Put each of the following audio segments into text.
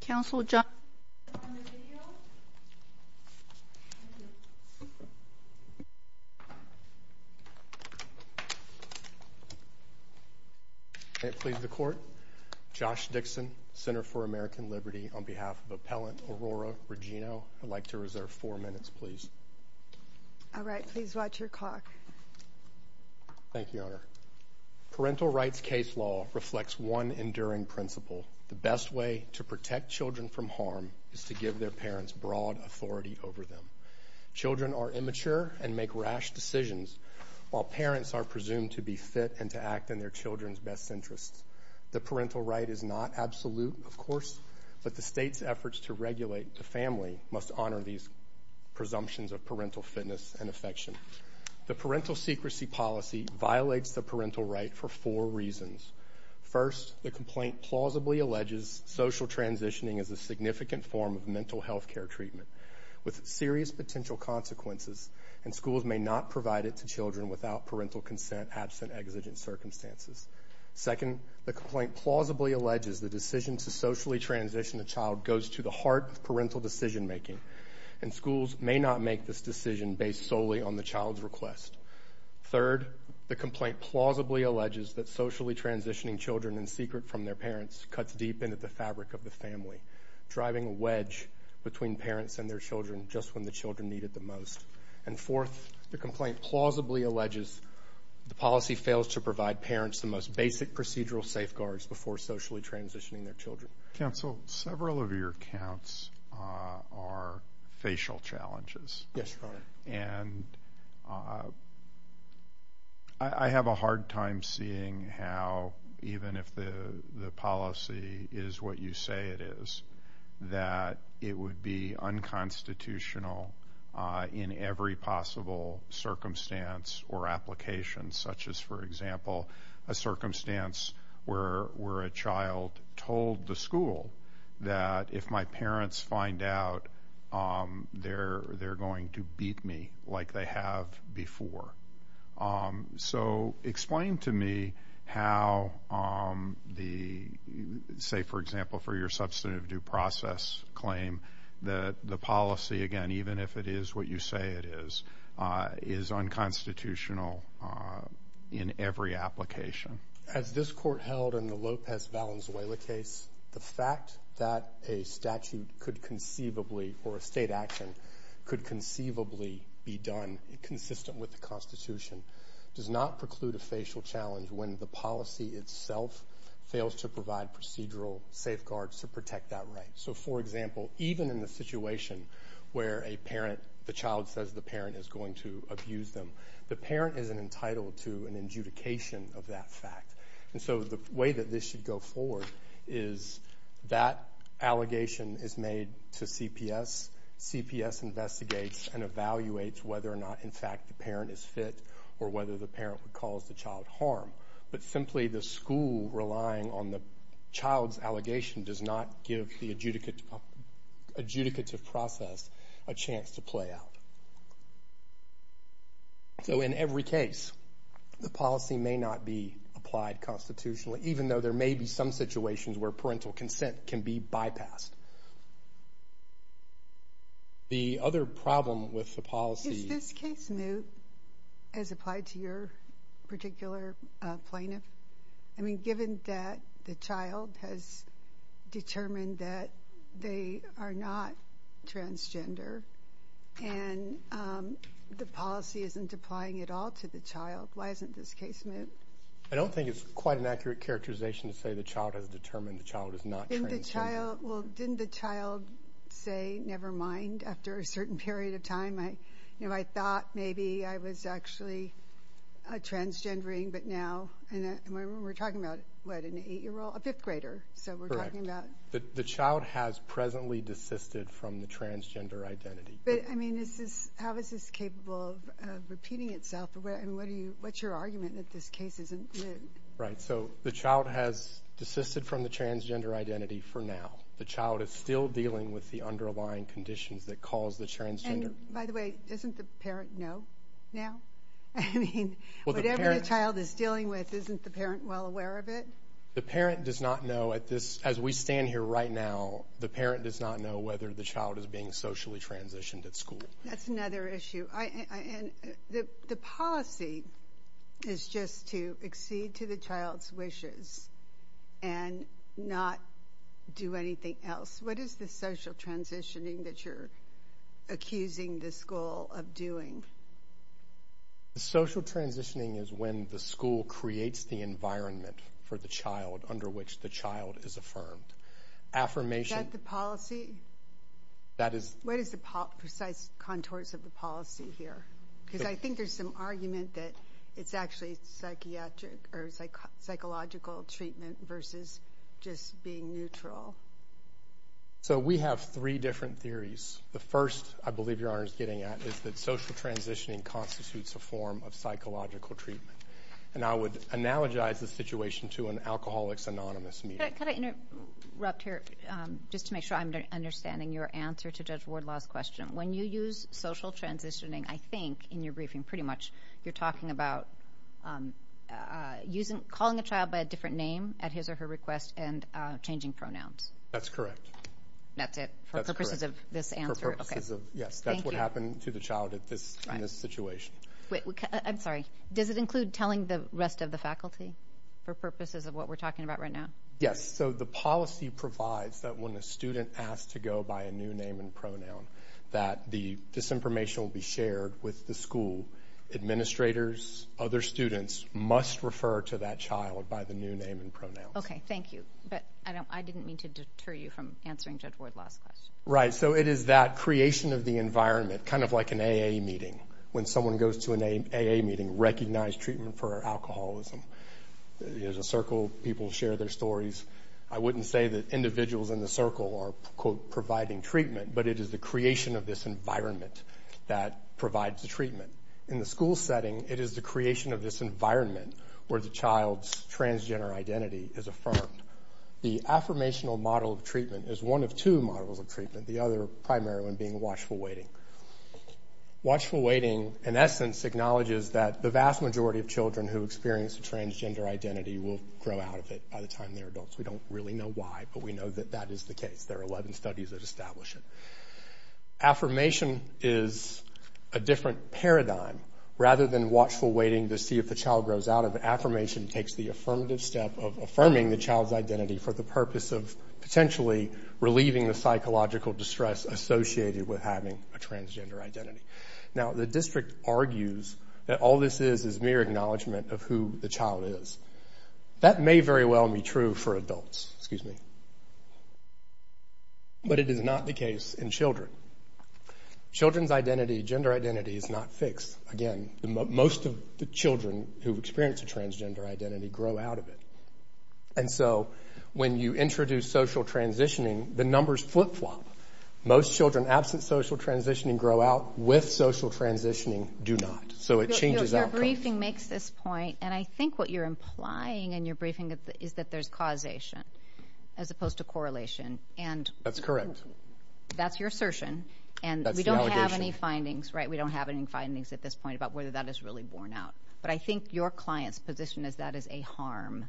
Councilor John. It please the court. Josh Dixon, Center for American Liberty, on behalf of appellant Aurora Regino. I'd like to reserve four minutes, please. All right, please watch your clock. Thank you, Honor. Parental rights case law reflects one enduring principle. The best way to protect children from harm is to give their parents broad authority over them. Children are immature and make rash decisions, while parents are presumed to be fit and to act in their children's best interests. The parental right is not absolute, of course, but the state's efforts to regulate the family must honor these presumptions of parental fitness and affection. The parental secrecy policy violates the parental right for four reasons. First, the complaint plausibly alleges social transitioning is a significant form of mental health care treatment with serious potential consequences, and schools may not provide it to children without parental consent absent exigent circumstances. Second, the complaint plausibly alleges the decision to socially transition a child goes to the heart of parental decision making, and schools may not make this decision based solely on the child's request. Third, the decision to socially transitioning children in secret from their parents cuts deep into the fabric of the family, driving a wedge between parents and their children just when the children need it the most. And fourth, the complaint plausibly alleges the policy fails to provide parents the most basic procedural safeguards before socially transitioning their children. Counsel, several of your counts are facial challenges. Yes, Your Honor. And I have a hard time seeing how, even if the policy is what you say it is, that it would be unconstitutional in every possible circumstance or application, such as, for example, a circumstance where a child told the school that if my like they have before. So explain to me how the say, for example, for your substantive due process claim that the policy again, even if it is what you say it is, is unconstitutional in every application. As this court held in the Lopez Valenzuela case, the fact that a statute could conceivably or a state action could conceivably be done consistent with the Constitution does not preclude a facial challenge when the policy itself fails to provide procedural safeguards to protect that right. So, for example, even in the situation where a parent, the child says the parent is going to abuse them, the parent is entitled to an adjudication of that fact. And so the way that this should go forward is that allegation is made to CPS. CPS investigates and evaluates whether or not, in fact, the parent is fit or whether the parent would cause the child harm. But simply the school relying on the child's allegation does not give the adjudicative process a chance to play out. So in every case, the policy may not be applied constitutionally, even though there may be some situations where parental consent can be with the policy. Is this case moot as applied to your particular plaintiff? I mean, given that the child has determined that they are not transgender, and the policy isn't applying at all to the child, why isn't this case moot? I don't think it's quite an accurate characterization to say the child has determined the child is not transgender. Well, didn't the child say never mind after a certain period of time, I thought maybe I was actually transgendering, but now, and we're talking about what, an eight-year-old, a fifth-grader. So we're talking about... Correct. The child has presently desisted from the transgender identity. But I mean, how is this capable of repeating itself? And what's your argument that this case isn't moot? Right. So the child has desisted from the transgender identity for now. The child is still dealing with the underlying conditions that cause the transgender... By the way, doesn't the parent know now? I mean, whatever the child is dealing with, isn't the parent well aware of it? The parent does not know at this, as we stand here right now, the parent does not know whether the child is being socially transitioned at school. That's another issue. And the policy is just to accede to the child's wishes and not do anything else. What is the school of doing? The social transitioning is when the school creates the environment for the child under which the child is affirmed. Affirmation... Is that the policy? That is... What is the precise contours of the policy here? Because I think there's some argument that it's actually psychiatric or psychological treatment versus just being neutral. So we have three different theories. The first, I believe Your Honor is getting at, is that social transitioning constitutes a form of psychological treatment. And I would analogize the situation to an Alcoholics Anonymous meeting. Could I interrupt here, just to make sure I'm understanding your answer to Judge Wardlaw's question. When you use social transitioning, I think, in your briefing, pretty much you're talking about calling a child by a different name at his or her That's correct. That's it? For purposes of this answer? For purposes of... Yes, that's what happened to the child at this, in this situation. Wait, I'm sorry. Does it include telling the rest of the faculty? For purposes of what we're talking about right now? Yes. So the policy provides that when a student asked to go by a new name and pronoun, that the disinformation will be shared with the school. Administrators, other students must refer to that child by the new name and pronoun. Okay, thank you. But I didn't mean to deter you from answering Judge Wardlaw's question. Right. So it is that creation of the environment, kind of like an AA meeting. When someone goes to an AA meeting, recognize treatment for alcoholism. There's a circle, people share their stories. I wouldn't say that individuals in the circle are, quote, providing treatment, but it is the creation of this environment that provides the treatment. In the school setting, it is the creation of this environment where the affirmation is affirmed. The affirmational model of treatment is one of two models of treatment, the other primary one being watchful waiting. Watchful waiting, in essence, acknowledges that the vast majority of children who experience a transgender identity will grow out of it by the time they're adults. We don't really know why, but we know that that is the case. There are 11 studies that establish it. Affirmation is a different paradigm. Rather than watchful waiting to see if the child grows out of it, takes the affirmative step of affirming the child's identity for the purpose of potentially relieving the psychological distress associated with having a transgender identity. Now, the district argues that all this is is mere acknowledgment of who the child is. That may very well be true for adults, excuse me, but it is not the case in children. Children's identity, gender identity is not fixed. Again, most of the children's gender identity grow out of it. And so, when you introduce social transitioning, the numbers flip-flop. Most children absent social transitioning grow out with social transitioning do not. So, it changes outcomes. Your briefing makes this point, and I think what you're implying in your briefing is that there's causation as opposed to correlation, and that's your assertion, and we don't have any findings, right? We don't have any findings at this point about whether that is really borne out, but I think your client's position is that is a harm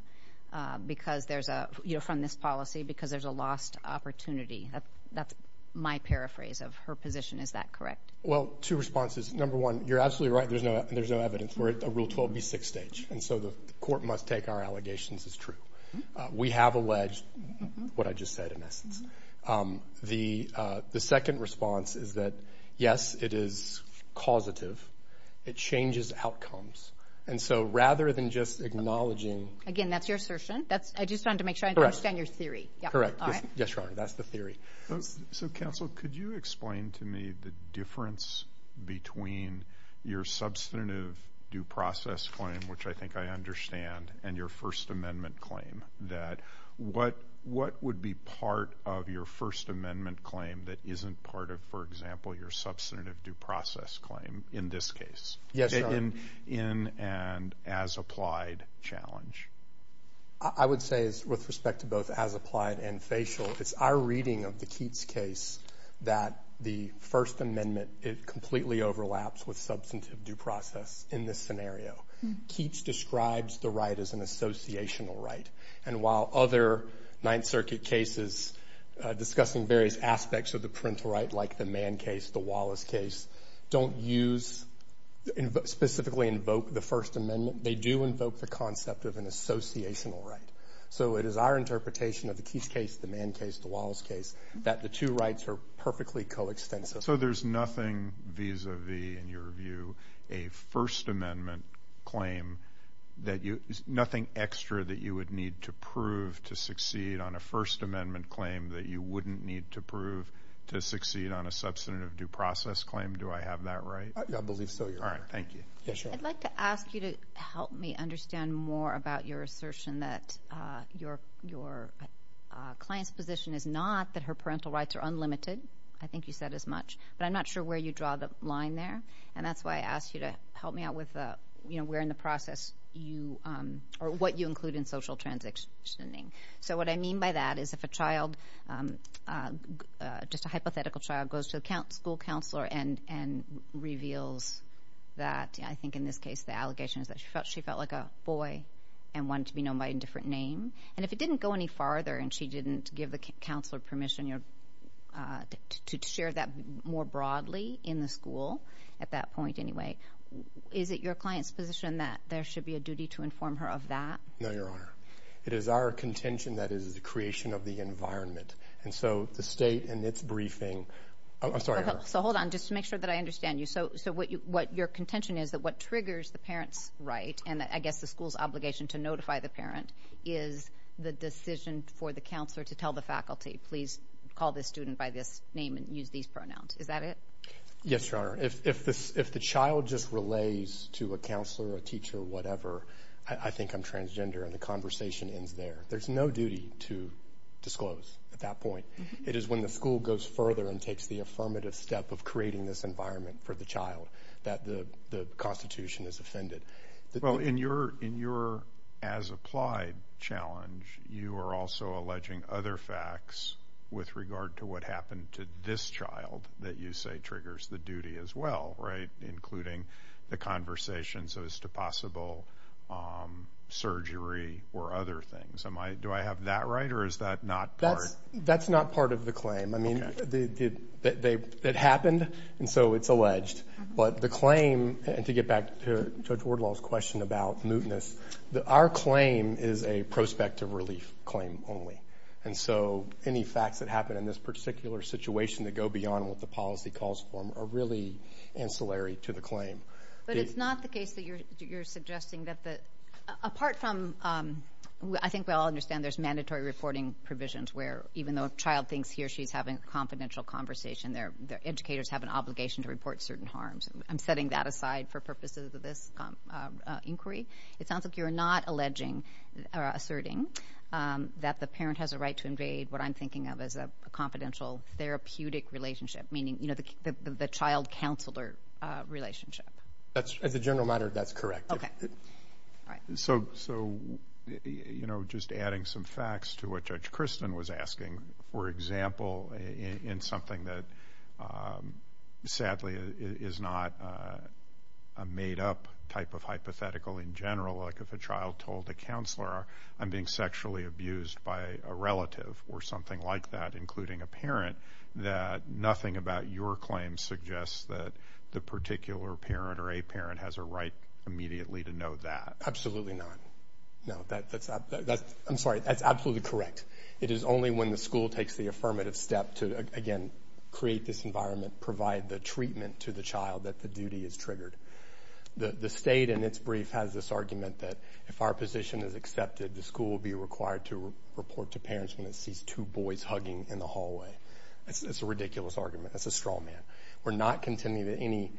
because there's a, you know, from this policy, because there's a lost opportunity. That's my paraphrase of her position. Is that correct? Well, two responses. Number one, you're absolutely right. There's no evidence. We're at the Rule 12 v. 6 stage, and so the court must take our allegations as true. We have alleged what I just said, in essence. The second response is that, yes, it is causative. It changes outcomes, and so rather than just acknowledging... Again, that's your assertion. I just wanted to make sure I understand your theory. Correct. Yes, Your Honor, that's the theory. So, counsel, could you explain to me the difference between your substantive due process claim, which I think I understand, and your First Amendment claim, that what would be part of your First Amendment claim that isn't part of, for example, your in and as applied challenge? I would say, with respect to both as applied and facial, it's our reading of the Keats case that the First Amendment, it completely overlaps with substantive due process in this scenario. Keats describes the right as an associational right, and while other Ninth Circuit cases discussing various aspects of the parental right, like the Keats case, specifically invoke the First Amendment, they do invoke the concept of an associational right. So, it is our interpretation of the Keats case, the Mann case, the Wallace case, that the two rights are perfectly coextensive. So, there's nothing vis-a-vis, in your view, a First Amendment claim that you... Nothing extra that you would need to prove to succeed on a First Amendment claim that you wouldn't need to prove to succeed on a substantive due process claim? Do I have that right? I believe so, Your Honor. All right. Thank you. I'd like to ask you to help me understand more about your assertion that your client's position is not that her parental rights are unlimited. I think you said as much, but I'm not sure where you draw the line there, and that's why I asked you to help me out with where in the process you, or what you include in social transitioning. So, what I mean by that is if a child, just a hypothetical child, goes to the school counselor and reveals that, I think in this case, the allegation is that she felt like a boy and wanted to be known by a different name, and if it didn't go any farther and she didn't give the counselor permission to share that more broadly in the school, at that point anyway, is it your client's position that there should be a duty to inform her of that? No, Your Honor. It is our contention that it is the creation of the environment, and so the state in its briefing... I'm sorry, Your Honor. So, hold on. Just to make sure that I understand you. So, what your contention is that what triggers the parent's right, and I guess the school's obligation to notify the parent, is the decision for the counselor to tell the faculty, please call this student by this name and use these pronouns. Is that it? Yes, Your Honor. If the child just relays to a counselor, a teacher, whatever, I think I'm transgender, and the conversation ends there. There's no duty to disclose at that point. It is when the school goes further and takes the affirmative step of creating this environment for the child that the constitution is offended. Well, in your as-applied challenge, you are also alleging other facts with regard to what happened to this child that you say triggers the duty as well, right? Including the conversations as to possible surgery or other things. Do I have that right, or is that not part? That's not part of the case. It happened, and so it's alleged. But the claim, and to get back to Judge Wardlaw's question about mootness, our claim is a prospective relief claim only. And so, any facts that happen in this particular situation that go beyond what the policy calls for are really ancillary to the claim. But it's not the case that you're suggesting that the... Apart from... I think we all understand there's mandatory reporting provisions where even though a child thinks he or she is having a confidential conversation, their educators have an obligation to report certain harms. I'm setting that aside for purposes of this inquiry. It sounds like you're not alleging or asserting that the parent has a right to invade what I'm thinking of as a confidential therapeutic relationship, meaning, you know, the child counselor relationship. That's... As a general matter, that's correct. Okay. All right. So, you know, just adding some facts to what you're saying, for example, in something that, sadly, is not a made-up type of hypothetical in general, like if a child told a counselor, I'm being sexually abused by a relative or something like that, including a parent, that nothing about your claim suggests that the particular parent or a parent has a right immediately to know that. Absolutely not. No, that's... I'm sorry. That's absolutely correct. It is only when the school takes the affirmative step to, again, create this environment, provide the treatment to the child that the duty is triggered. The state, in its brief, has this argument that if our position is accepted, the school will be required to report to parents when it sees two boys hugging in the hallway. It's a ridiculous argument. That's a straw man. We're not contending that any...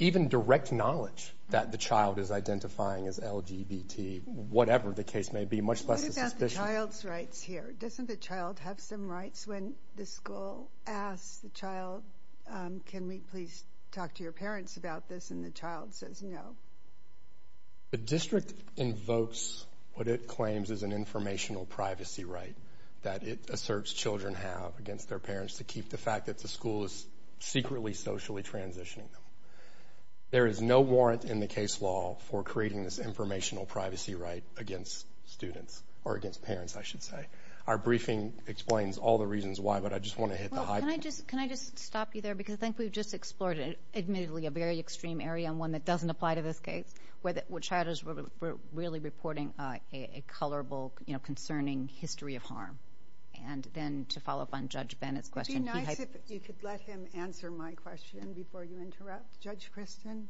Even direct knowledge that the child is identifying as LGBT, whatever the case may be, much less the suspicion. What about the child's rights here? Doesn't the child have some rights when the school asks the child, can we please talk to your parents about this? And the child says no. The district invokes what it claims is an informational privacy right that it asserts children have against their parents to keep the fact that the school is secretly socially transitioning them. There is no warrant in the case law for creating this informational privacy right against students or against parents, I should say. Our briefing explains all the reasons why, but I just wanna hit the high point. Can I just stop you there? Because I think we've just explored, admittedly, a very extreme area and one that doesn't apply to this case, where child is really reporting a colorable, concerning history of harm. And then to follow up on Judge Bennett's question... Would be nice if you could let him answer my question before you interrupt. Judge Kristen,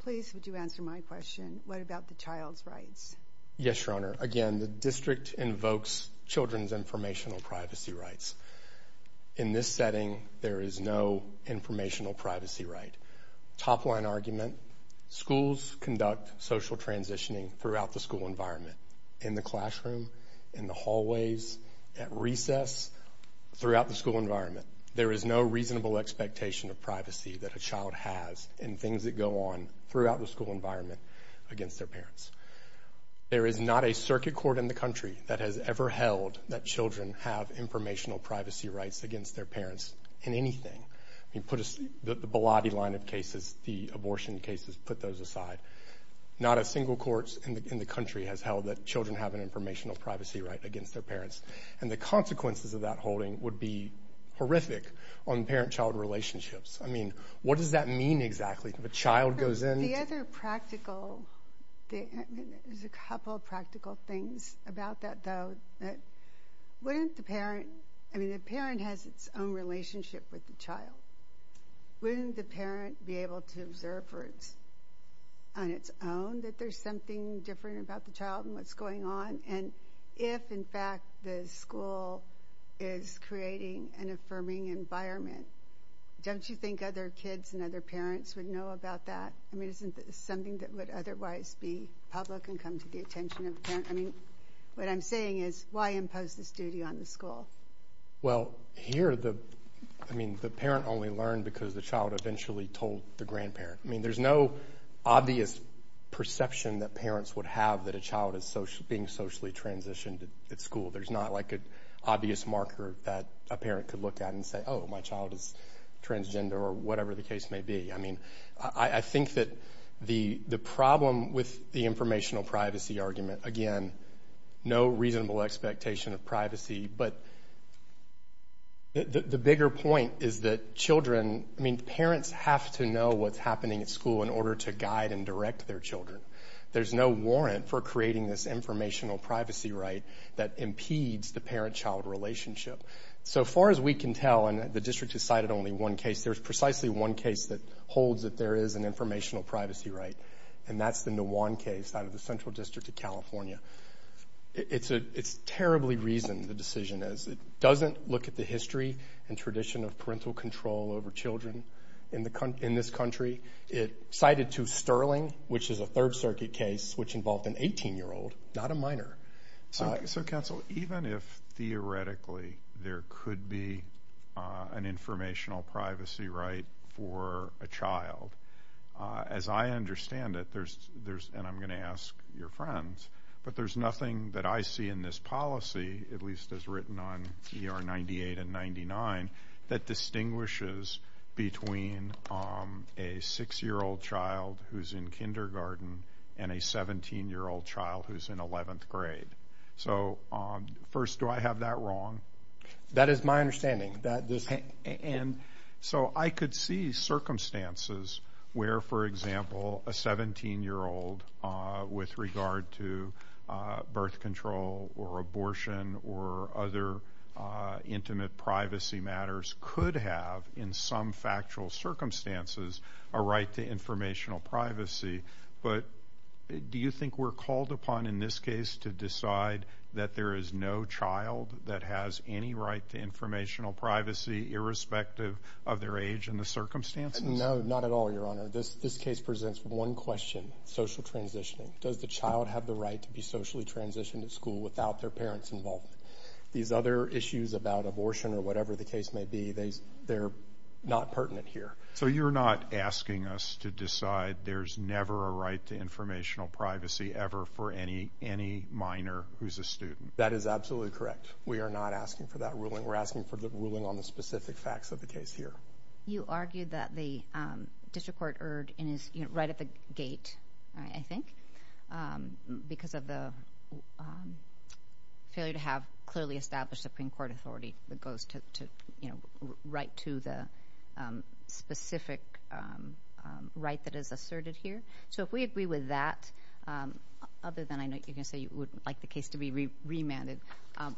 please would you answer my question? What about the child's rights? Yes, Your Honor, the district invokes children's informational privacy rights. In this setting, there is no informational privacy right. Top line argument, schools conduct social transitioning throughout the school environment, in the classroom, in the hallways, at recess, throughout the school environment. There is no reasonable expectation of privacy that a child has in things that go on throughout the school environment against their parents. There is not a circuit court in the country that has ever held that children have informational privacy rights against their parents in anything. The Bolotti line of cases, the abortion cases, put those aside. Not a single court in the country has held that children have an informational privacy right against their parents. And the consequences of that holding would be horrific on parent child relationships. What does that mean exactly? If a child goes in... The other practical... There's a couple practical things about that, though. Wouldn't the parent... I mean, the parent has its own relationship with the child. Wouldn't the parent be able to observe on its own that there's something different about the child and what's going on? And if, in fact, the school is creating an affirming environment, don't you think other kids and other parents would know about that? I mean, isn't that something that would otherwise be public and come to the attention of the parent? I mean, what I'm saying is, why impose this duty on the school? Well, here the... I mean, the parent only learned because the child eventually told the grandparent. I mean, there's no obvious perception that parents would have that a child is being socially transitioned at school. There's not like an obvious marker that a parent could look at and say, oh, my child is transgender or whatever the case may be. I mean, I think that the problem with the informational privacy argument, again, no reasonable expectation of privacy, but the bigger point is that children... I mean, parents have to know what's happening at school in order to guide and direct their children. There's no warrant for creating this informational privacy right that impedes the parent child relationship. So far as we can tell, and the district has cited only one case, there's precisely one case that holds that there is an informational privacy right, and that's the Nuwan case out of the Central District of California. It's terribly reasoned, the decision is. It doesn't look at the history and tradition of parental control over children in this country. It cited to Sterling, which is a Third Circuit case, which involved an 18 year old, not a minor. So counsel, even if theoretically there could be an informational privacy right for a child, as I understand it, there's... And I'm gonna ask your friends, but there's nothing that I see in this policy, at least as written on ER 98 and 99, that distinguishes between a six year old child who's in kindergarten and a 17 year old child who's in 11th grade. So, first, do I have that wrong? That is my understanding. And so I could see circumstances where, for example, a 17 year old, with regard to birth control or abortion or other intimate privacy matters, could have, in some factual circumstances, a right to informational privacy. But do you think we're called upon, in this case, to decide that there is no child that has any right to informational privacy, irrespective of their age and the circumstances? No, not at all, Your Honor. This case presents one question, social transitioning. Does the child have the right to be socially transitioned at school without their parents involved? These other issues about abortion or whatever the case may be, they're not pertinent here. So you're not asking us to decide there's never a right to informational privacy ever for any minor who's a student? That is absolutely correct. We are not asking for that ruling. We're asking for the ruling on the specific facts of the case here. You argued that the district court erred, and is right at the gate, I think, because of the failure to have clearly established Supreme Court authority that goes to right to the specific right that is asserted here. So if we agree with that, other than I know you're going to say you would like the case to be remanded,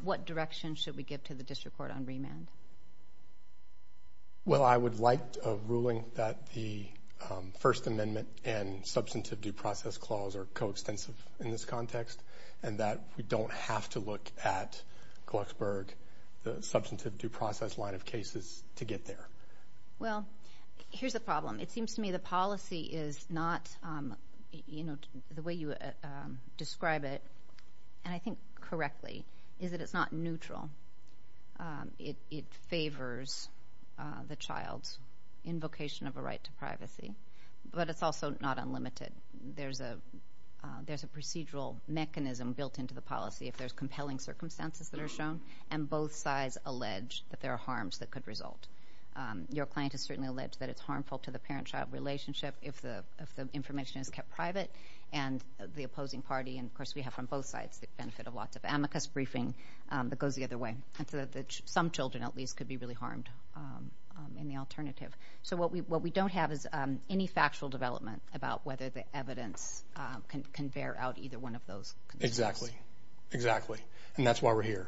what direction should we give to the district court on remand? Well, I would like a ruling that the First Amendment and substantive due process clause are coextensive in this context, and that we don't have to look at a large line of cases to get there. Well, here's the problem. It seems to me the policy is not... The way you describe it, and I think correctly, is that it's not neutral. It favors the child's invocation of a right to privacy, but it's also not unlimited. There's a procedural mechanism built into the policy if there's compelling circumstances that are shown, and both sides allege that there are harms that could result. Your client has certainly alleged that it's harmful to the parent child relationship if the information is kept private, and the opposing party, and of course, we have on both sides the benefit of lots of amicus briefing that goes the other way. Some children, at least, could be really harmed in the alternative. So what we don't have is any factual development about whether the evidence can bear out either one of those conditions. Exactly, exactly. And that's why we're here.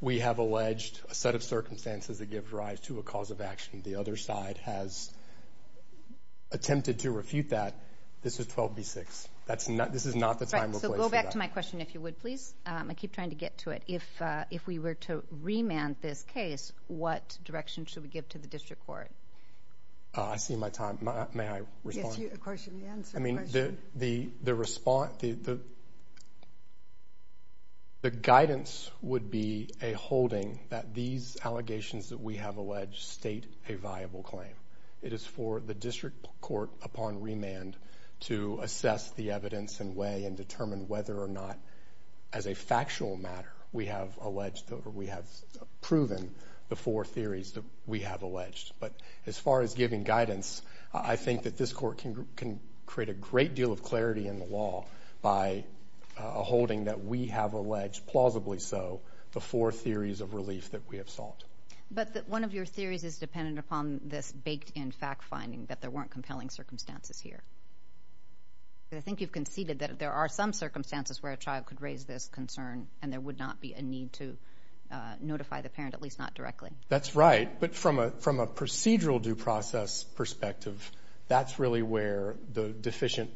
We have alleged a set of circumstances that gives rise to a cause of action. The other side has attempted to refute that. This is 12B6. This is not the time or place for that. Right. So go back to my question, if you would, please. I keep trying to get to it. If we were to remand this case, what direction should we give to the district court? I see my time. May I respond? Yes, you. Of course, you can answer the question. I think the response... The guidance would be a holding that these allegations that we have alleged state a viable claim. It is for the district court, upon remand, to assess the evidence in a way and determine whether or not, as a factual matter, we have alleged or we have proven the four theories that we have alleged. But as far as giving guidance, I think that this court can create a great deal of clarity in the law by a holding that we have alleged, plausibly so, the four theories of relief that we have solved. But one of your theories is dependent upon this baked in fact finding that there weren't compelling circumstances here. I think you've conceded that there are some circumstances where a child could raise this concern and there would not be a need to notify the parent, at least not directly. That's right. But from a procedural due process perspective, that's really where the deficient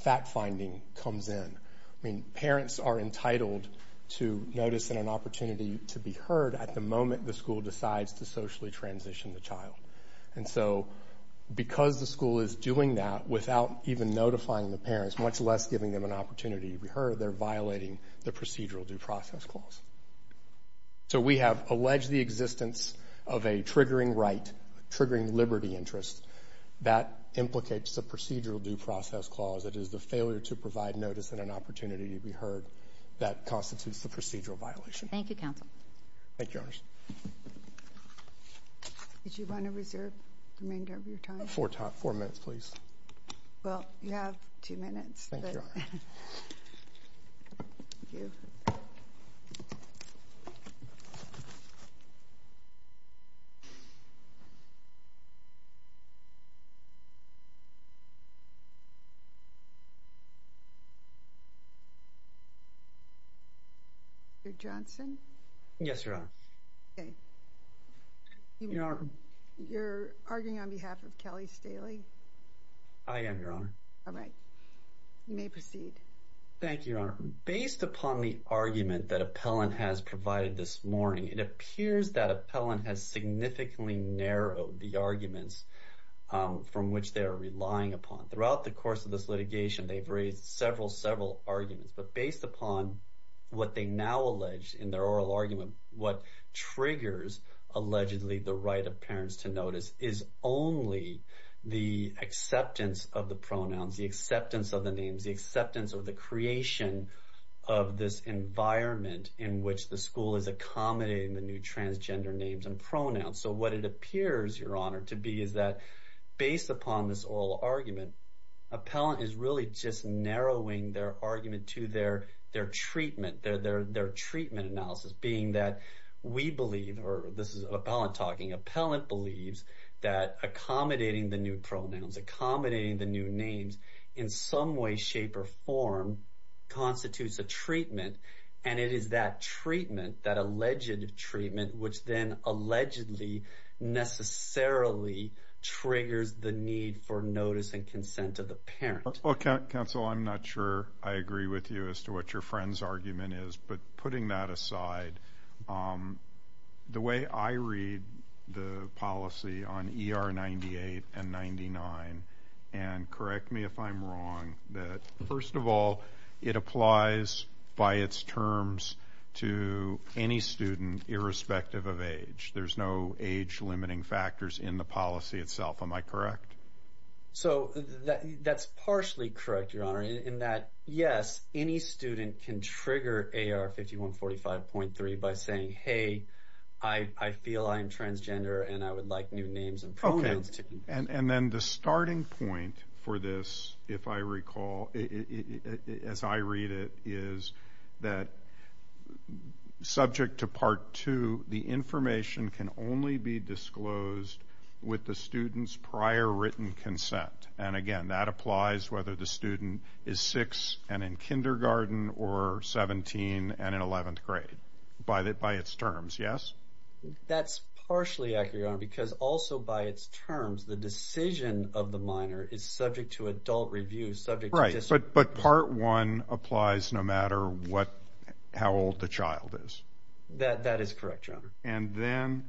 fact finding comes in. Parents are entitled to notice and an opportunity to be heard at the moment the school decides to socially transition the child. And so, because the school is doing that without even notifying the parents, much less giving them an opportunity to be heard, they're violating the procedural due process clause. So we have alleged the existence of a triggering right, triggering liberty interest. That implicates the procedural due process clause. It is the failure to provide notice and an opportunity to be heard. That constitutes the procedural violation. Thank you, Counsel. Thank you, Your Honors. Would you want to reserve the remainder of your time? Four minutes, please. Well, you have two minutes. Thank you, Your Honor. Yeah. You're Johnson. Yes, Your Honor. Okay. You know, you're arguing on behalf of Kelly Staley. I am, Your Honor. All right. You may proceed. Thank you, Your Honor. Based upon the argument that Appellant has provided this morning, it appears that Appellant has significantly narrowed the arguments from which they're relying upon. Throughout the course of this litigation, they've raised several, several arguments. But based upon what they now allege in their oral argument, what triggers allegedly the right of parents to notice is only the acceptance of the pronouns, the acceptance of the names, the acceptance of the creation of this environment in which the school is accommodating the new transgender names and pronouns. So what it appears, Your Honor, to be is that based upon this oral argument, Appellant is really just narrowing their argument to their treatment, their treatment analysis, being that we believe, or this is Appellant talking, Appellant believes that accommodating the new pronouns, accommodating the new names in some way, shape or form constitutes a right. And it is that treatment, that alleged treatment, which then allegedly necessarily triggers the need for notice and consent of the parent. Well, counsel, I'm not sure I agree with you as to what your friend's argument is. But putting that aside, the way I read the policy on ER 98 and 99, and correct me if I'm wrong, that first of all, it applies by its terms to any student irrespective of age. There's no age limiting factors in the policy itself. Am I correct? So that's partially correct, Your Honor, in that, yes, any student can trigger AR 5145.3 by saying, hey, I feel I'm transgender and I would like new names and pronouns. And then the starting point for this, if I recall, as I read it, is that subject to Part 2, the information can only be disclosed with the student's prior written consent. And again, that applies whether the student is six and in kindergarten or 17 and in 11th grade by its terms. Yes? That's partially accurate, Your Honor, because also by its terms, the decision of the minor is subject to adult review, subject to discipline. Right. But Part 1 applies no matter what, how old the child is. That is correct, Your Honor. And then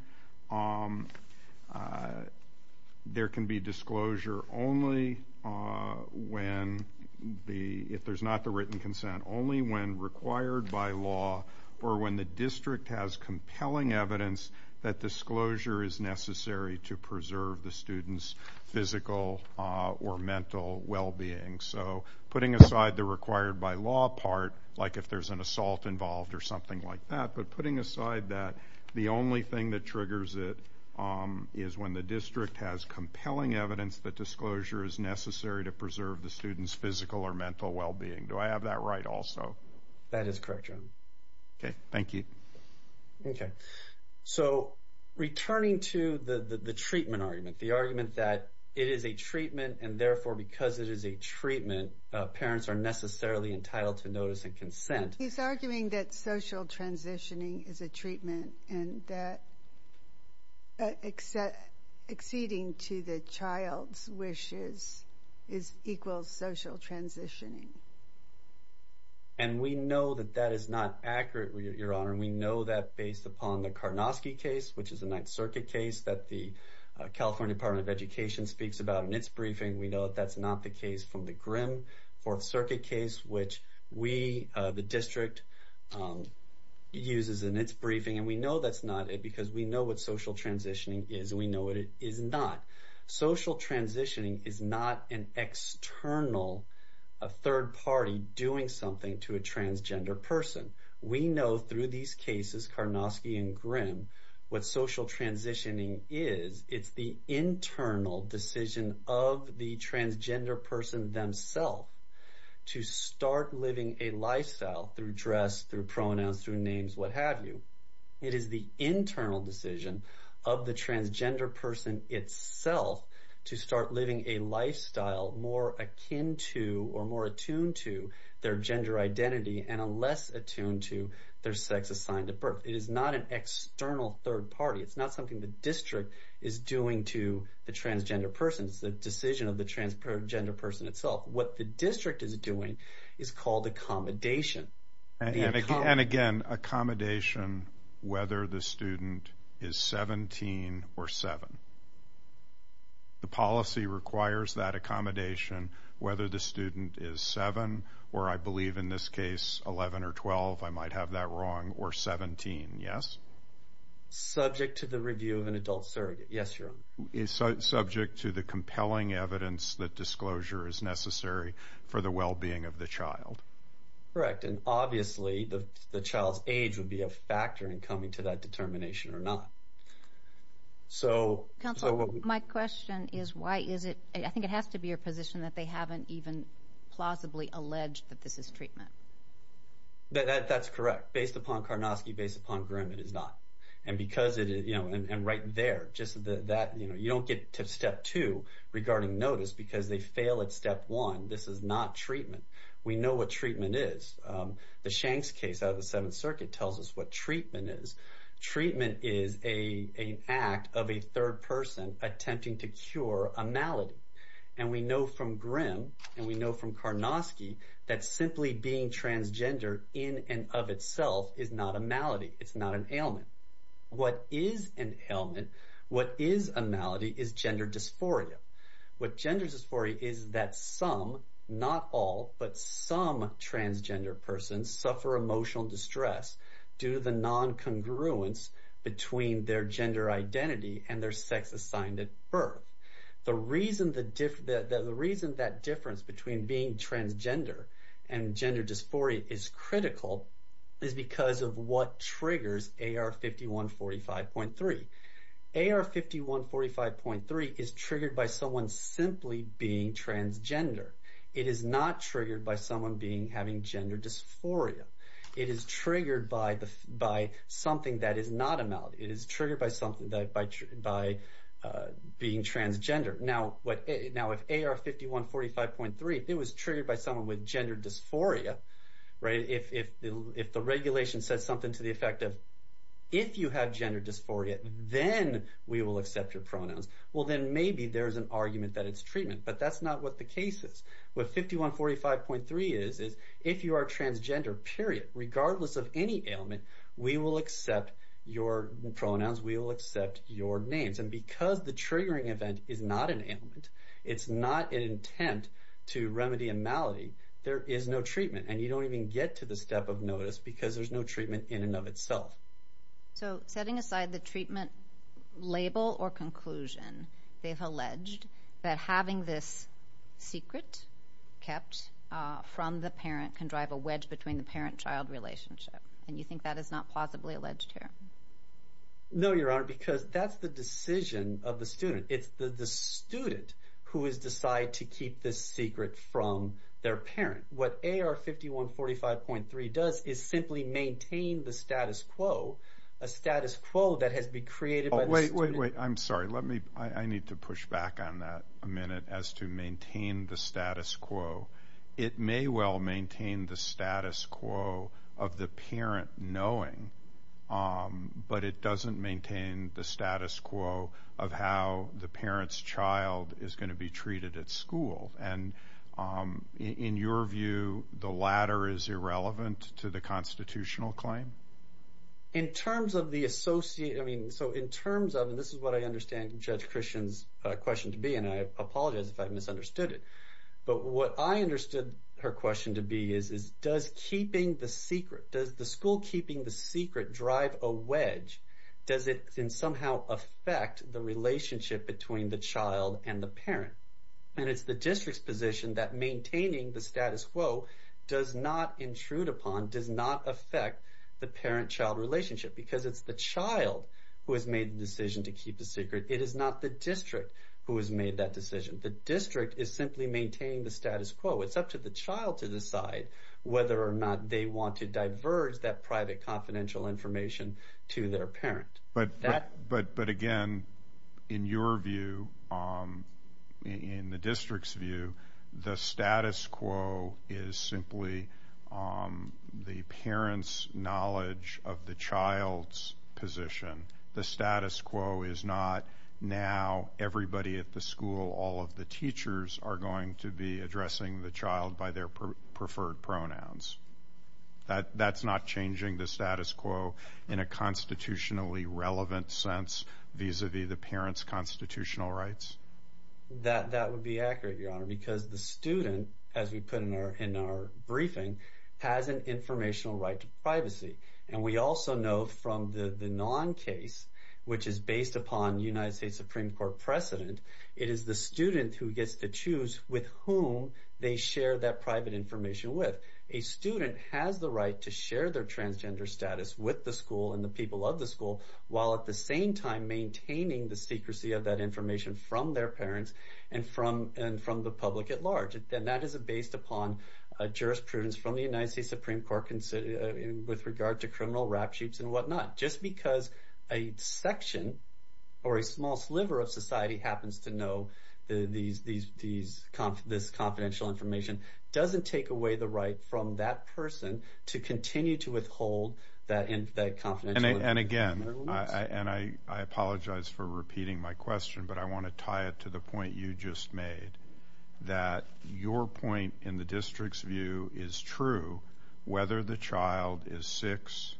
there can be disclosure only when the, if there's not the written consent, there's compelling evidence that disclosure is necessary to preserve the student's physical or mental well being. So putting aside the required by law part, like if there's an assault involved or something like that, but putting aside that, the only thing that triggers it is when the district has compelling evidence that disclosure is necessary to preserve the student's physical or mental well being. Do I have that right also? That is correct, Your Honor. Okay. Thank you. Okay. So returning to the treatment argument, the argument that it is a treatment and therefore because it is a treatment, parents are necessarily entitled to notice and consent. He's arguing that social transitioning is a treatment and that exceeding to the child's wishes is equal social transitioning. And we know that that is not accurate, Your Honor. And we know that based upon the Karnosky case, which is a Ninth Circuit case that the California Department of Education speaks about in its briefing. We know that that's not the case from the Grimm Fourth Circuit case, which we, the district, uses in its briefing. And we know that's not it because we know what social transitioning is. We know what it is not. Social transitioning is not an external, a third party doing something to a transgender person. We know through these cases, Karnosky and Grimm, what social transitioning is. It's the internal decision of the transgender person themselves to start living a lifestyle through dress, through pronouns, through names, what have you. It is the internal decision of the transgender person itself to start living a lifestyle more akin to or more attuned to their gender identity and a less attuned to their sex assigned at birth. It is not an external third party. It's not something the district is doing to the transgender person. It's the decision of the transgender person itself. What the district is doing is called accommodation. And again, accommodation, whether the student is 17 or seven. The policy requires that accommodation, whether the student is seven, or I believe in this case, 11 or 12, I might have that wrong, or 17, yes? Subject to the review of an adult surrogate. Yes, Your Honor. It's subject to the compelling evidence that disclosure is necessary for the well-being of the child. Correct. And obviously, the child's age would be a factor in coming to that determination or not. So- Counselor, my question is why is it, I think it has to be your position that they haven't even plausibly alleged that this is treatment. That's correct. Based upon Karnosky, based upon Grimm, it is not. And because it is, you know, and right there, just that, you know, you don't get to step two regarding notice because they fail at step one. This is not treatment. We know what treatment is. The Shanks case out of the Seventh Circuit tells us what treatment is. Treatment is an act of a third person attempting to cure a malady. And we know from Grimm, and we know from Karnosky, that simply being transgender in and of itself is not a malady. It's not an ailment. What is an ailment, what is a malady, is gender dysphoria. What gender dysphoria is that some, not all, but some transgender persons suffer emotional distress due to the non-congruence between their gender identity and their sex assigned at birth. The reason that difference between being transgender and gender dysphoria is critical is because of what triggers AR5145.3. AR5145.3 is triggered by someone simply being transgender. It is not triggered by someone being, having gender dysphoria. It is triggered by the, by something that is not a malady. It is triggered by something that, by, by being transgender. Now, what, now if AR5145.3, if it was triggered by someone with gender dysphoria, right, if, if, if the regulation says something to the effect of, if you have gender dysphoria, then we will accept your pronouns. Well, then maybe there's an argument that it's treatment, but that's not what the case is. What 5145.3 is, is if you are transgender, period, regardless of any ailment, we will accept your pronouns, we will accept your names. And because the triggering event is not an ailment, it's not an attempt to remedy a malady, there is no treatment. And you don't even get to the step of notice because there's no treatment in and of itself. So setting aside the treatment label or conclusion, they've alleged that having this secret kept from the parent can drive a wedge between the parent-child relationship, and you think that is not plausibly alleged here? No, Your Honor, because that's the decision of the student. It's the, the student who has decided to keep this secret from their parent. What AR 5145.3 does is simply maintain the status quo, a status quo that has been created by the student. Oh, wait, wait, wait. I'm sorry. Let me, I need to push back on that a minute as to maintain the status quo. It may well maintain the status quo of the parent knowing, but it doesn't maintain the status quo of how the parent's child is going to be treated at school, and so, in your view, the latter is irrelevant to the constitutional claim? In terms of the associate, I mean, so in terms of, and this is what I understand Judge Christian's question to be, and I apologize if I misunderstood it, but what I understood her question to be is, is does keeping the secret, does the school keeping the secret drive a wedge, does it somehow affect the relationship between the child and the parent? And it's the district's position that maintaining the status quo does not intrude upon, does not affect the parent-child relationship because it's the child who has made the decision to keep the secret, it is not the district who has made that decision. The district is simply maintaining the status quo. It's up to the child to decide whether or not they want to diverge that private confidential information to their parent. But again, in your view, in the district's view, the status quo is simply the parent's knowledge of the child's position. The status quo is not now everybody at the school, all of the teachers are going to be addressing the child by their preferred pronouns. That, that's not changing the status quo in a constitutionally relevant sense vis-a-vis the parent's constitutional rights? That, that would be accurate, Your Honor, because the student, as we put in our, in our briefing, has an informational right to privacy. And we also know from the non-case, which is based upon United States Supreme Court precedent, it is the student who gets to choose with whom they share that private information with. A student has the right to share their transgender status with the school and the people of the school, while at the same time maintaining the secrecy of that information from their parents and from, and from the public at large. And that is a based upon a jurisprudence from the United States Supreme Court with regard to criminal rap sheets and whatnot, just because a section or a small sliver of society happens to know these, these, these conf, this confidential information, doesn't take away the right from that person to continue to withhold that in, that confidential information. And again, I, I, and I, I apologize for repeating my question, but I want to tie it to the point you just made, that your point in the district's view is true, whether the child is 6,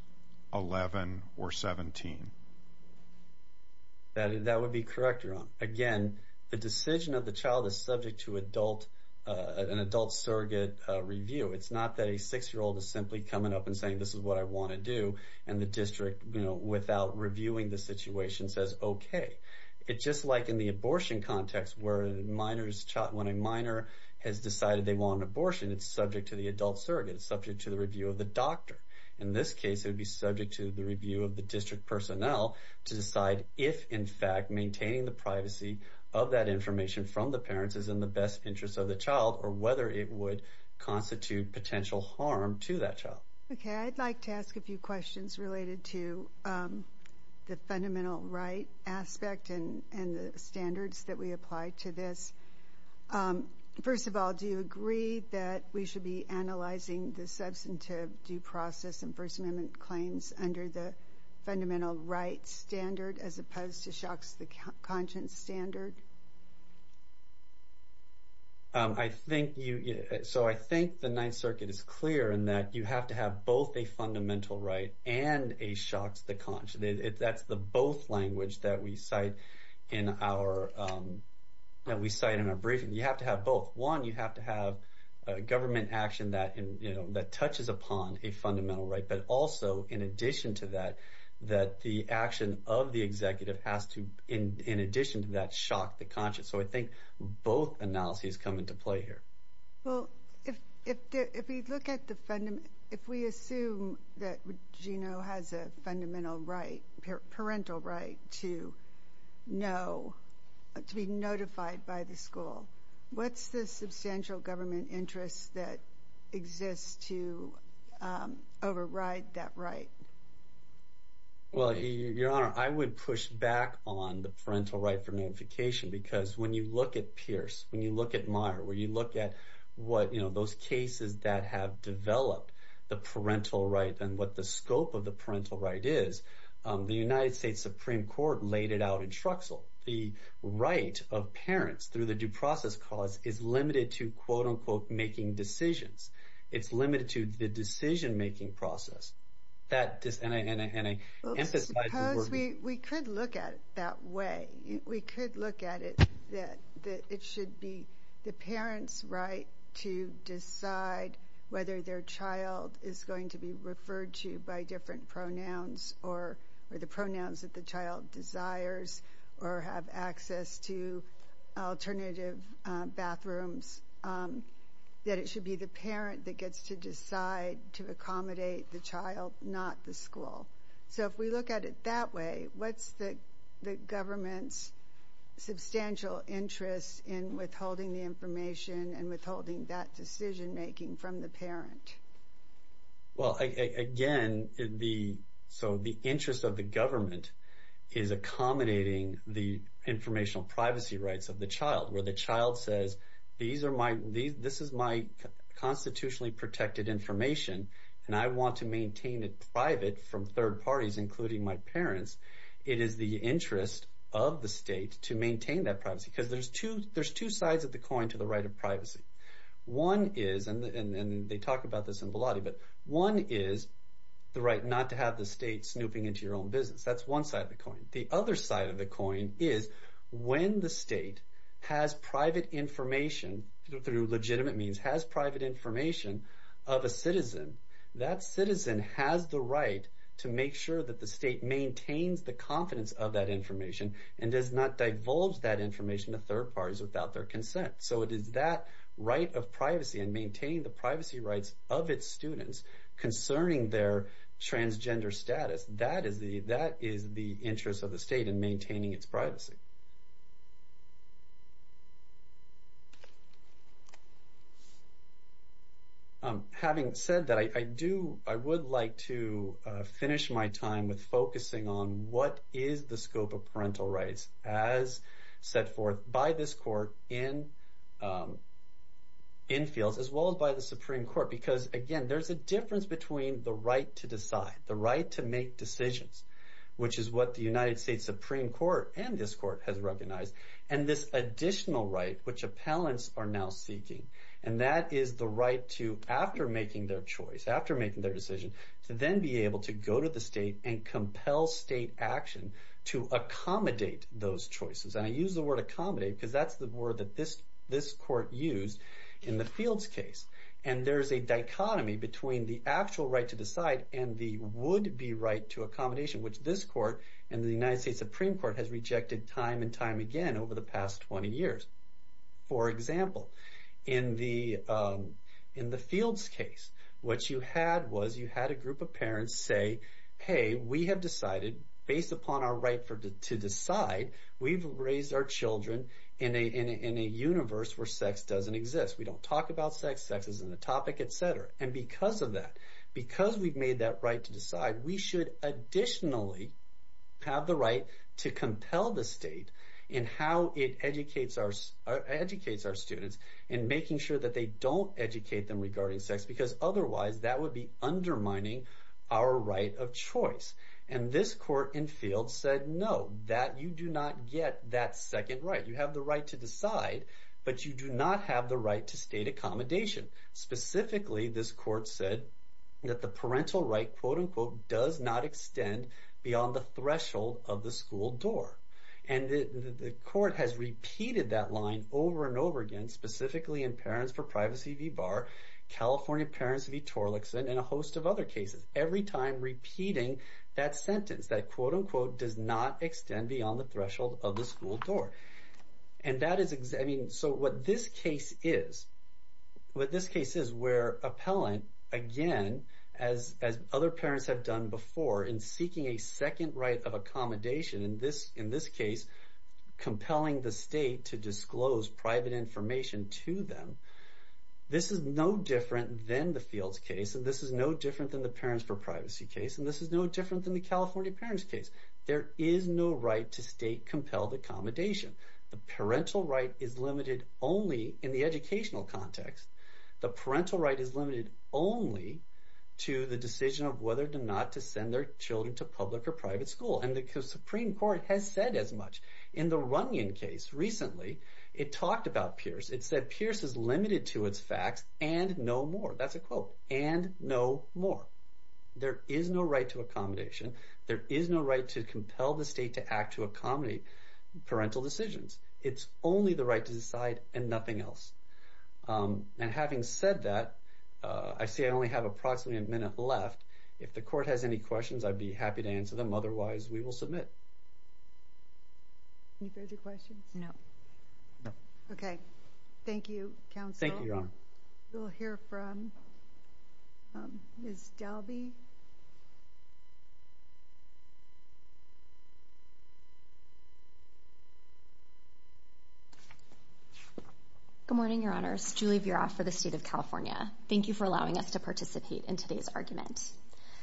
11, or 17. That, that would be correct, Your Honor. Again, the decision of the child is subject to adult, an adult surrogate review. It's not that a 6-year-old is simply coming up and saying, this is what I want to do, and the district, you know, without reviewing the situation says, okay, it's just like in the abortion context where minors, when a minor has decided they want an abortion, it's subject to the adult surrogate, it's subject to the review of the doctor. In this case, it would be subject to the review of the district personnel to decide if, in fact, maintaining the privacy of that information from the parents is in the best interest of the child, or whether it would constitute potential harm to that child. Okay. I'd like to ask a few questions related to the fundamental right aspect and, and the standards that we apply to this. First of all, do you agree that we should be analyzing the substantive due standard as opposed to Shocks the Conscience standard? I think you, so I think the Ninth Circuit is clear in that you have to have both a fundamental right and a Shocks the Conscience, that's the both language that we cite in our, that we cite in our briefing. You have to have both. One, you have to have a government action that, you know, that touches upon a executive has to, in addition to that Shock the Conscience. So I think both analyses come into play here. Well, if, if, if we look at the, if we assume that Geno has a fundamental right, parental right to know, to be notified by the school, what's the substantial government interest that exists to override that right? Well, Your Honor, I would push back on the parental right for notification because when you look at Pierce, when you look at Meyer, where you look at what, you know, those cases that have developed the parental right and what the scope of the parental right is, the United States Supreme Court laid it out in Truxell. The right of parents through the due process cause is limited to quote unquote, making decisions. It's limited to the decision making process. That just, and I, and I, and I emphasize the word... We could look at it that way. We could look at it that, that it should be the parent's right to decide whether their child is going to be referred to by different pronouns or, or the pronouns that the child desires or have access to alternative bathrooms, that it should be the parent that gets to decide to accommodate the child, not the school. So if we look at it that way, what's the, the government's substantial interest in withholding the information and withholding that decision making from the parent? Well, again, the, so the interest of the government is accommodating the informational privacy rights of the child, where the child says, these are my, these, this is my constitutionally protected information and I want to maintain it private from third parties, including my parents. It is the interest of the state to maintain that privacy. Cause there's two, there's two sides of the coin to the right of privacy. One is, and they talk about this in Volati, but one is the right not to have the state snooping into your own business. That's one side of the coin. The other side of the coin is when the state has private information through legitimate means, has private information of a citizen, that citizen has the right to make sure that the state maintains the confidence of that information and does not divulge that information to third parties without their consent. So it is that right of privacy and maintain the privacy rights of its students concerning their transgender status. That is the, that is the interest of the state in maintaining its privacy. Having said that, I do, I would like to finish my time with focusing on what is the scope of parental rights as set forth by this court in infields, as well as by the Supreme Court, because again, there's a difference between the right to decide, the right to make decisions, which is what the United States Supreme Court and this court has recognized and this additional right which appellants are now seeking, and that is the right to, after making their choice, after making their decision, to then be able to go to the state and compel state action to accommodate those choices. And I use the word accommodate because that's the word that this, this court used in the fields case. And there's a dichotomy between the actual right to decide and the would be right to accommodation, which this court and the United States Supreme Court has rejected time and time again over the past 20 years. For example, in the in the fields case, what you had was you had a group of parents say, hey, we have decided based upon our right to decide, we've raised our children in a universe where sex doesn't exist. We don't talk about sex, sex isn't a topic, et cetera. And because of that, because we've made that right to decide, we should additionally have the right to compel the state in how it educates our educates our students and making sure that they don't educate them regarding sex, because otherwise that would be undermining our right of choice. And this court in field said, no, that you do not get that second right. You have the right to decide, but you do not have the right to state accommodation. Specifically, this court said that the parental right, quote unquote, does not extend beyond the threshold of the school door. And the court has repeated that line over and over again, specifically in Parents for Privacy v. Barr, California Parents v. Torlakson and a host of other cases, every time repeating that sentence that, quote unquote, does not extend beyond the threshold of the school door. And that is I mean, so what this case is, what this case is where appellant again, as other parents have done before in seeking a second right of accommodation in this in this case, compelling the state to disclose private information to them. This is no different than the Fields case, and this is no different than the Parents for Privacy case, and this is no different than the California Parents case. There is no right to state compelled accommodation. The parental right is limited only in the educational context. The parental right is limited only to the decision of whether or not to send their children to public or private school. And the Supreme Court has said as much in the Runyon case recently. It talked about Pierce. It said Pierce is limited to its facts and no more. That's a quote and no more. There is no right to accommodation. There is no right to compel the state to act to accommodate parental decisions. It's only the right to decide and nothing else. And having said that, I see I only have approximately a minute left. If the court has any questions, I'd be happy to answer them. Otherwise, we will submit. Any further questions? No. Okay. Thank you, counsel. Thank you, Your Honor. We'll hear from Ms. Dalby. Ms. Dalby. Good morning, Your Honors. Julie Vera for the state of California. Thank you for allowing us to participate in today's argument.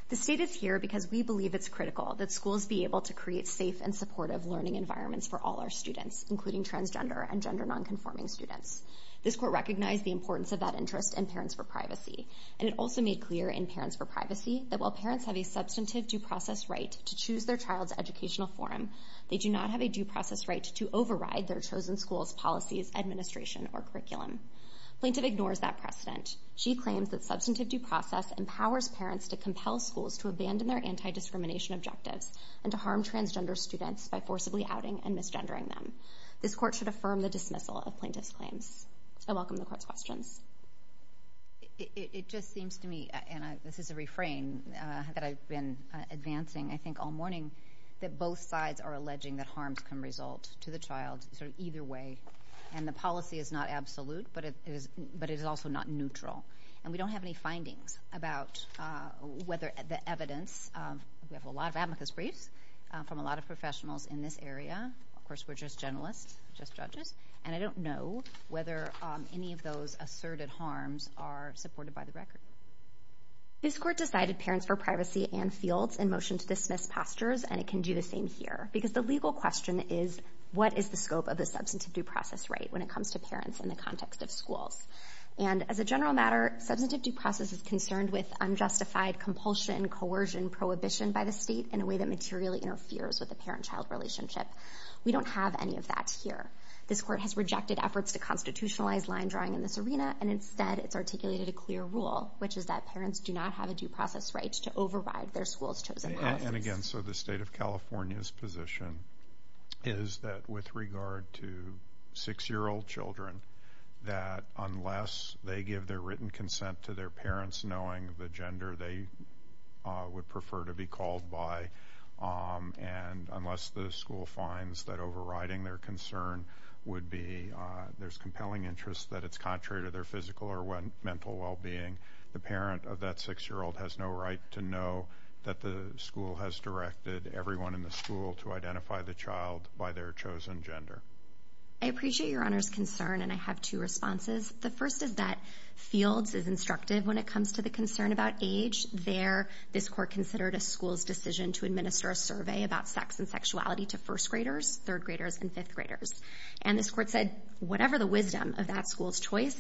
The state is here because we believe it's critical that schools be able to create safe and supportive learning environments for all our students, including transgender and gender nonconforming students. This court recognized the importance of that interest in parents for privacy, and it that while parents have a substantive due process right to choose their child's educational forum, they do not have a due process right to override their chosen school's policies, administration, or curriculum. Plaintiff ignores that precedent. She claims that substantive due process empowers parents to compel schools to abandon their anti-discrimination objectives and to harm transgender students by forcibly outing and misgendering them. This court should affirm the dismissal of plaintiff's claims. I welcome the court's questions. It just seems to me, and this is a refrain that I've been advancing, I think, all morning, that both sides are alleging that harms can result to the child, sort of either way. And the policy is not absolute, but it is also not neutral. And we don't have any findings about whether the evidence, we have a lot of amicus briefs from a lot of professionals in this area. Of course, we're just generalists, just judges. And I don't know whether any of those asserted harms are supported by the record. This court decided parents for privacy and fields in motion to dismiss postures, and it can do the same here. Because the legal question is, what is the scope of the substantive due process right when it comes to parents in the context of schools? And as a general matter, substantive due process is concerned with unjustified compulsion, coercion, prohibition by the state in a way that materially interferes with the parent-child relationship. We don't have any of that here. This court has rejected efforts to constitutionalize line drawing in this arena, and instead, it's articulated a clear rule, which is that parents do not have a due process right to override their school's chosen policies. And again, so the state of California's position is that with regard to six-year- old children, that unless they give their written consent to their parents knowing the gender they would prefer to be called by, and unless the school finds that there's compelling interest that it's contrary to their physical or mental well-being, the parent of that six-year-old has no right to know that the school has directed everyone in the school to identify the child by their chosen gender. I appreciate Your Honor's concern, and I have two responses. The first is that fields is instructive when it comes to the concern about age. There, this court considered a school's decision to administer a survey about sex and sexuality to first-graders, third-graders, and fifth-graders. And this court said, whatever the wisdom of that school's choice,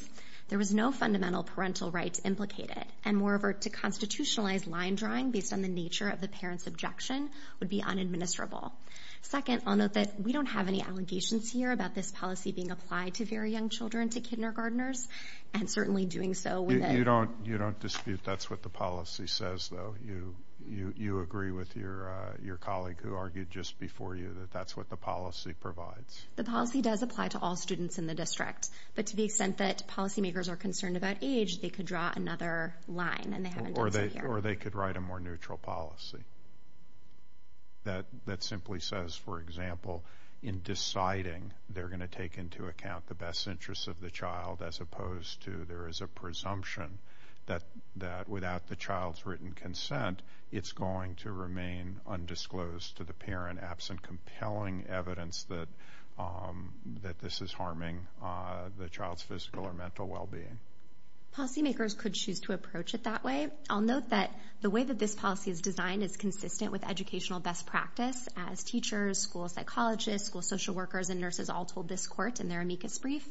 there was no fundamental parental rights implicated, and moreover, to constitutionalize line drawing based on the nature of the parent's objection would be unadministerable. Second, I'll note that we don't have any allegations here about this policy being applied to very young children, to kindergartners, and certainly doing so with a... You don't, you don't dispute that's what the policy says, though. You, you, you agree with your, your colleague who argued just before you that that's what the policy provides. The policy does apply to all students in the district, but to the extent that policymakers are concerned about age, they could draw another line, and they haven't done so here. Or they, or they could write a more neutral policy that, that simply says, for example, in deciding they're going to take into account the best interests of the child, as opposed to there is a presumption that, that without the child's written consent, it's going to remain undisclosed to the parent, absent compelling evidence that, that this is harming the child's physical or mental well-being. Policymakers could choose to approach it that way. I'll note that the way that this policy is designed is consistent with educational best practice as teachers, school psychologists, school social workers, and nurses all told this court in their amicus brief,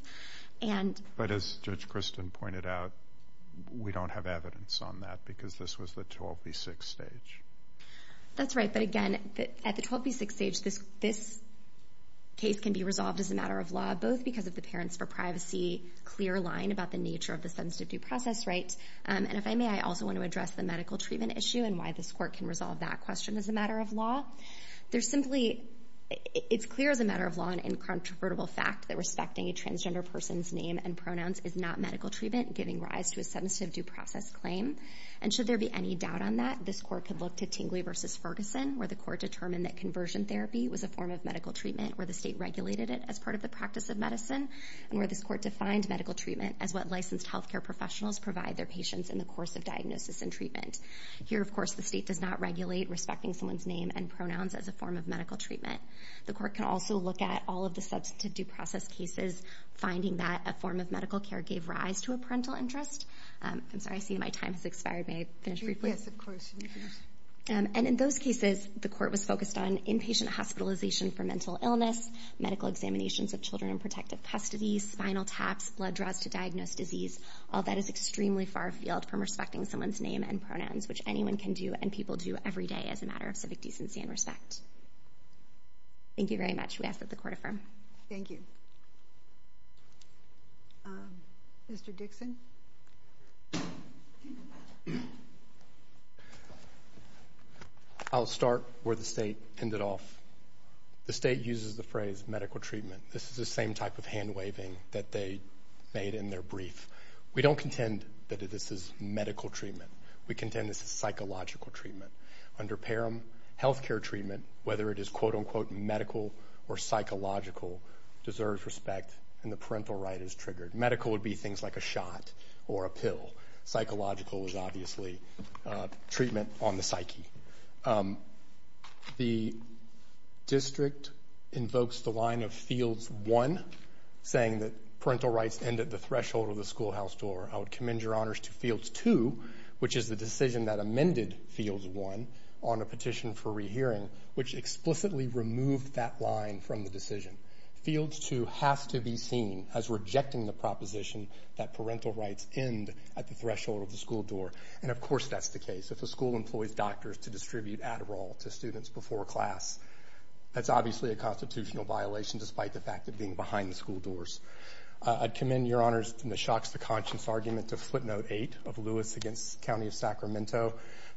and... But as Judge Kristen pointed out, we don't have evidence on that because this was the 12B6 stage. That's right. But again, at the 12B6 stage, this, this case can be resolved as a matter of law, both because of the Parents for Privacy clear line about the nature of the substantive due process, right? And if I may, I also want to address the medical treatment issue and why this court can resolve that question as a matter of law. There's simply, it's clear as a matter of law, an incontrovertible fact that respecting a transgender person's name and pronouns is not medical treatment, giving rise to a substantive due process claim. And should there be any doubt on that, this court could look to Tingley versus Ferguson, where the court determined that conversion therapy was a form of medical treatment, where the state regulated it as part of the practice of medicine, and where this court defined medical treatment as what licensed healthcare professionals provide their patients in the course of diagnosis and treatment. Here, of course, the state does not regulate respecting someone's name and pronouns as a form of medical treatment. The court can also look at all of the substantive due process cases, finding that a form of medical care gave rise to a parental interest. I'm sorry, I see my time has expired. May I finish briefly? Yes, of course. And in those cases, the court was focused on inpatient hospitalization for mental illness, medical examinations of children in protective custody, spinal taps, blood draws to diagnose disease. All that is extremely far afield from respecting someone's name and pronouns, which anyone can do and people do every day as a matter of civic decency and respect. Thank you very much. We ask that the court affirm. Thank you. Mr. Dixon. I'll start where the state ended off. The state uses the phrase medical treatment. This is the same type of hand waving that they made in their brief. We don't contend that this is medical treatment. We contend this is psychological treatment. Under Parham, healthcare treatment, whether it is quote unquote medical or psychological, deserves respect and the parental right is triggered. Medical would be things like a shot or a pill. Psychological is obviously treatment on the psyche. The district invokes the line of fields one, saying that parental rights end at the threshold of the schoolhouse door. I would commend your honors to fields two, which is the decision that amended fields one on a petition for rehearing, which explicitly removed that line from the decision. Fields two has to be seen as rejecting the proposition that parental rights end at the threshold of the school door. And of course, that's the case. If a school employs doctors to distribute Adderall to students before class, that's obviously a constitutional violation, despite the fact of being behind the school doors. I'd commend your honors in the shocks to conscience argument to footnote eight of Lewis against County of Sacramento.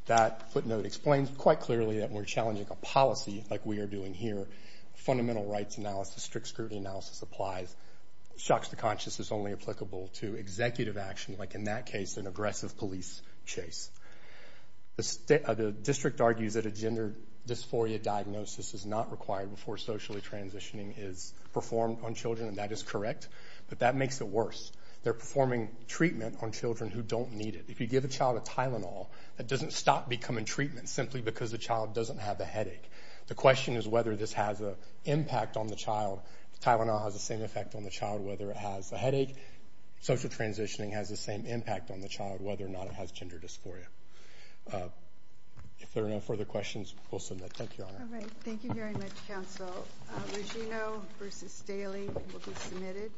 That footnote explains quite clearly that we're challenging a policy like we are doing here. Fundamental rights analysis, strict scrutiny analysis applies. Shocks to conscience is only applicable to executive action, like in that case, an aggressive police chase. The district argues that a gender dysphoria diagnosis is not required before socially transitioning is performed on children, and that is correct, but that makes it worse. They're performing treatment on children who don't need it. If you give a child a Tylenol, that doesn't stop becoming treatment simply because the child doesn't have the headache. The question is whether this has an impact on the child. Tylenol has the same effect on the child, whether it has a headache, social transitioning has the same impact on the child, whether or not it has gender dysphoria. If there are no further questions, we'll submit. Thank you, Your Honor. All right. Thank you very much, counsel. Regino versus Staley will be submitted.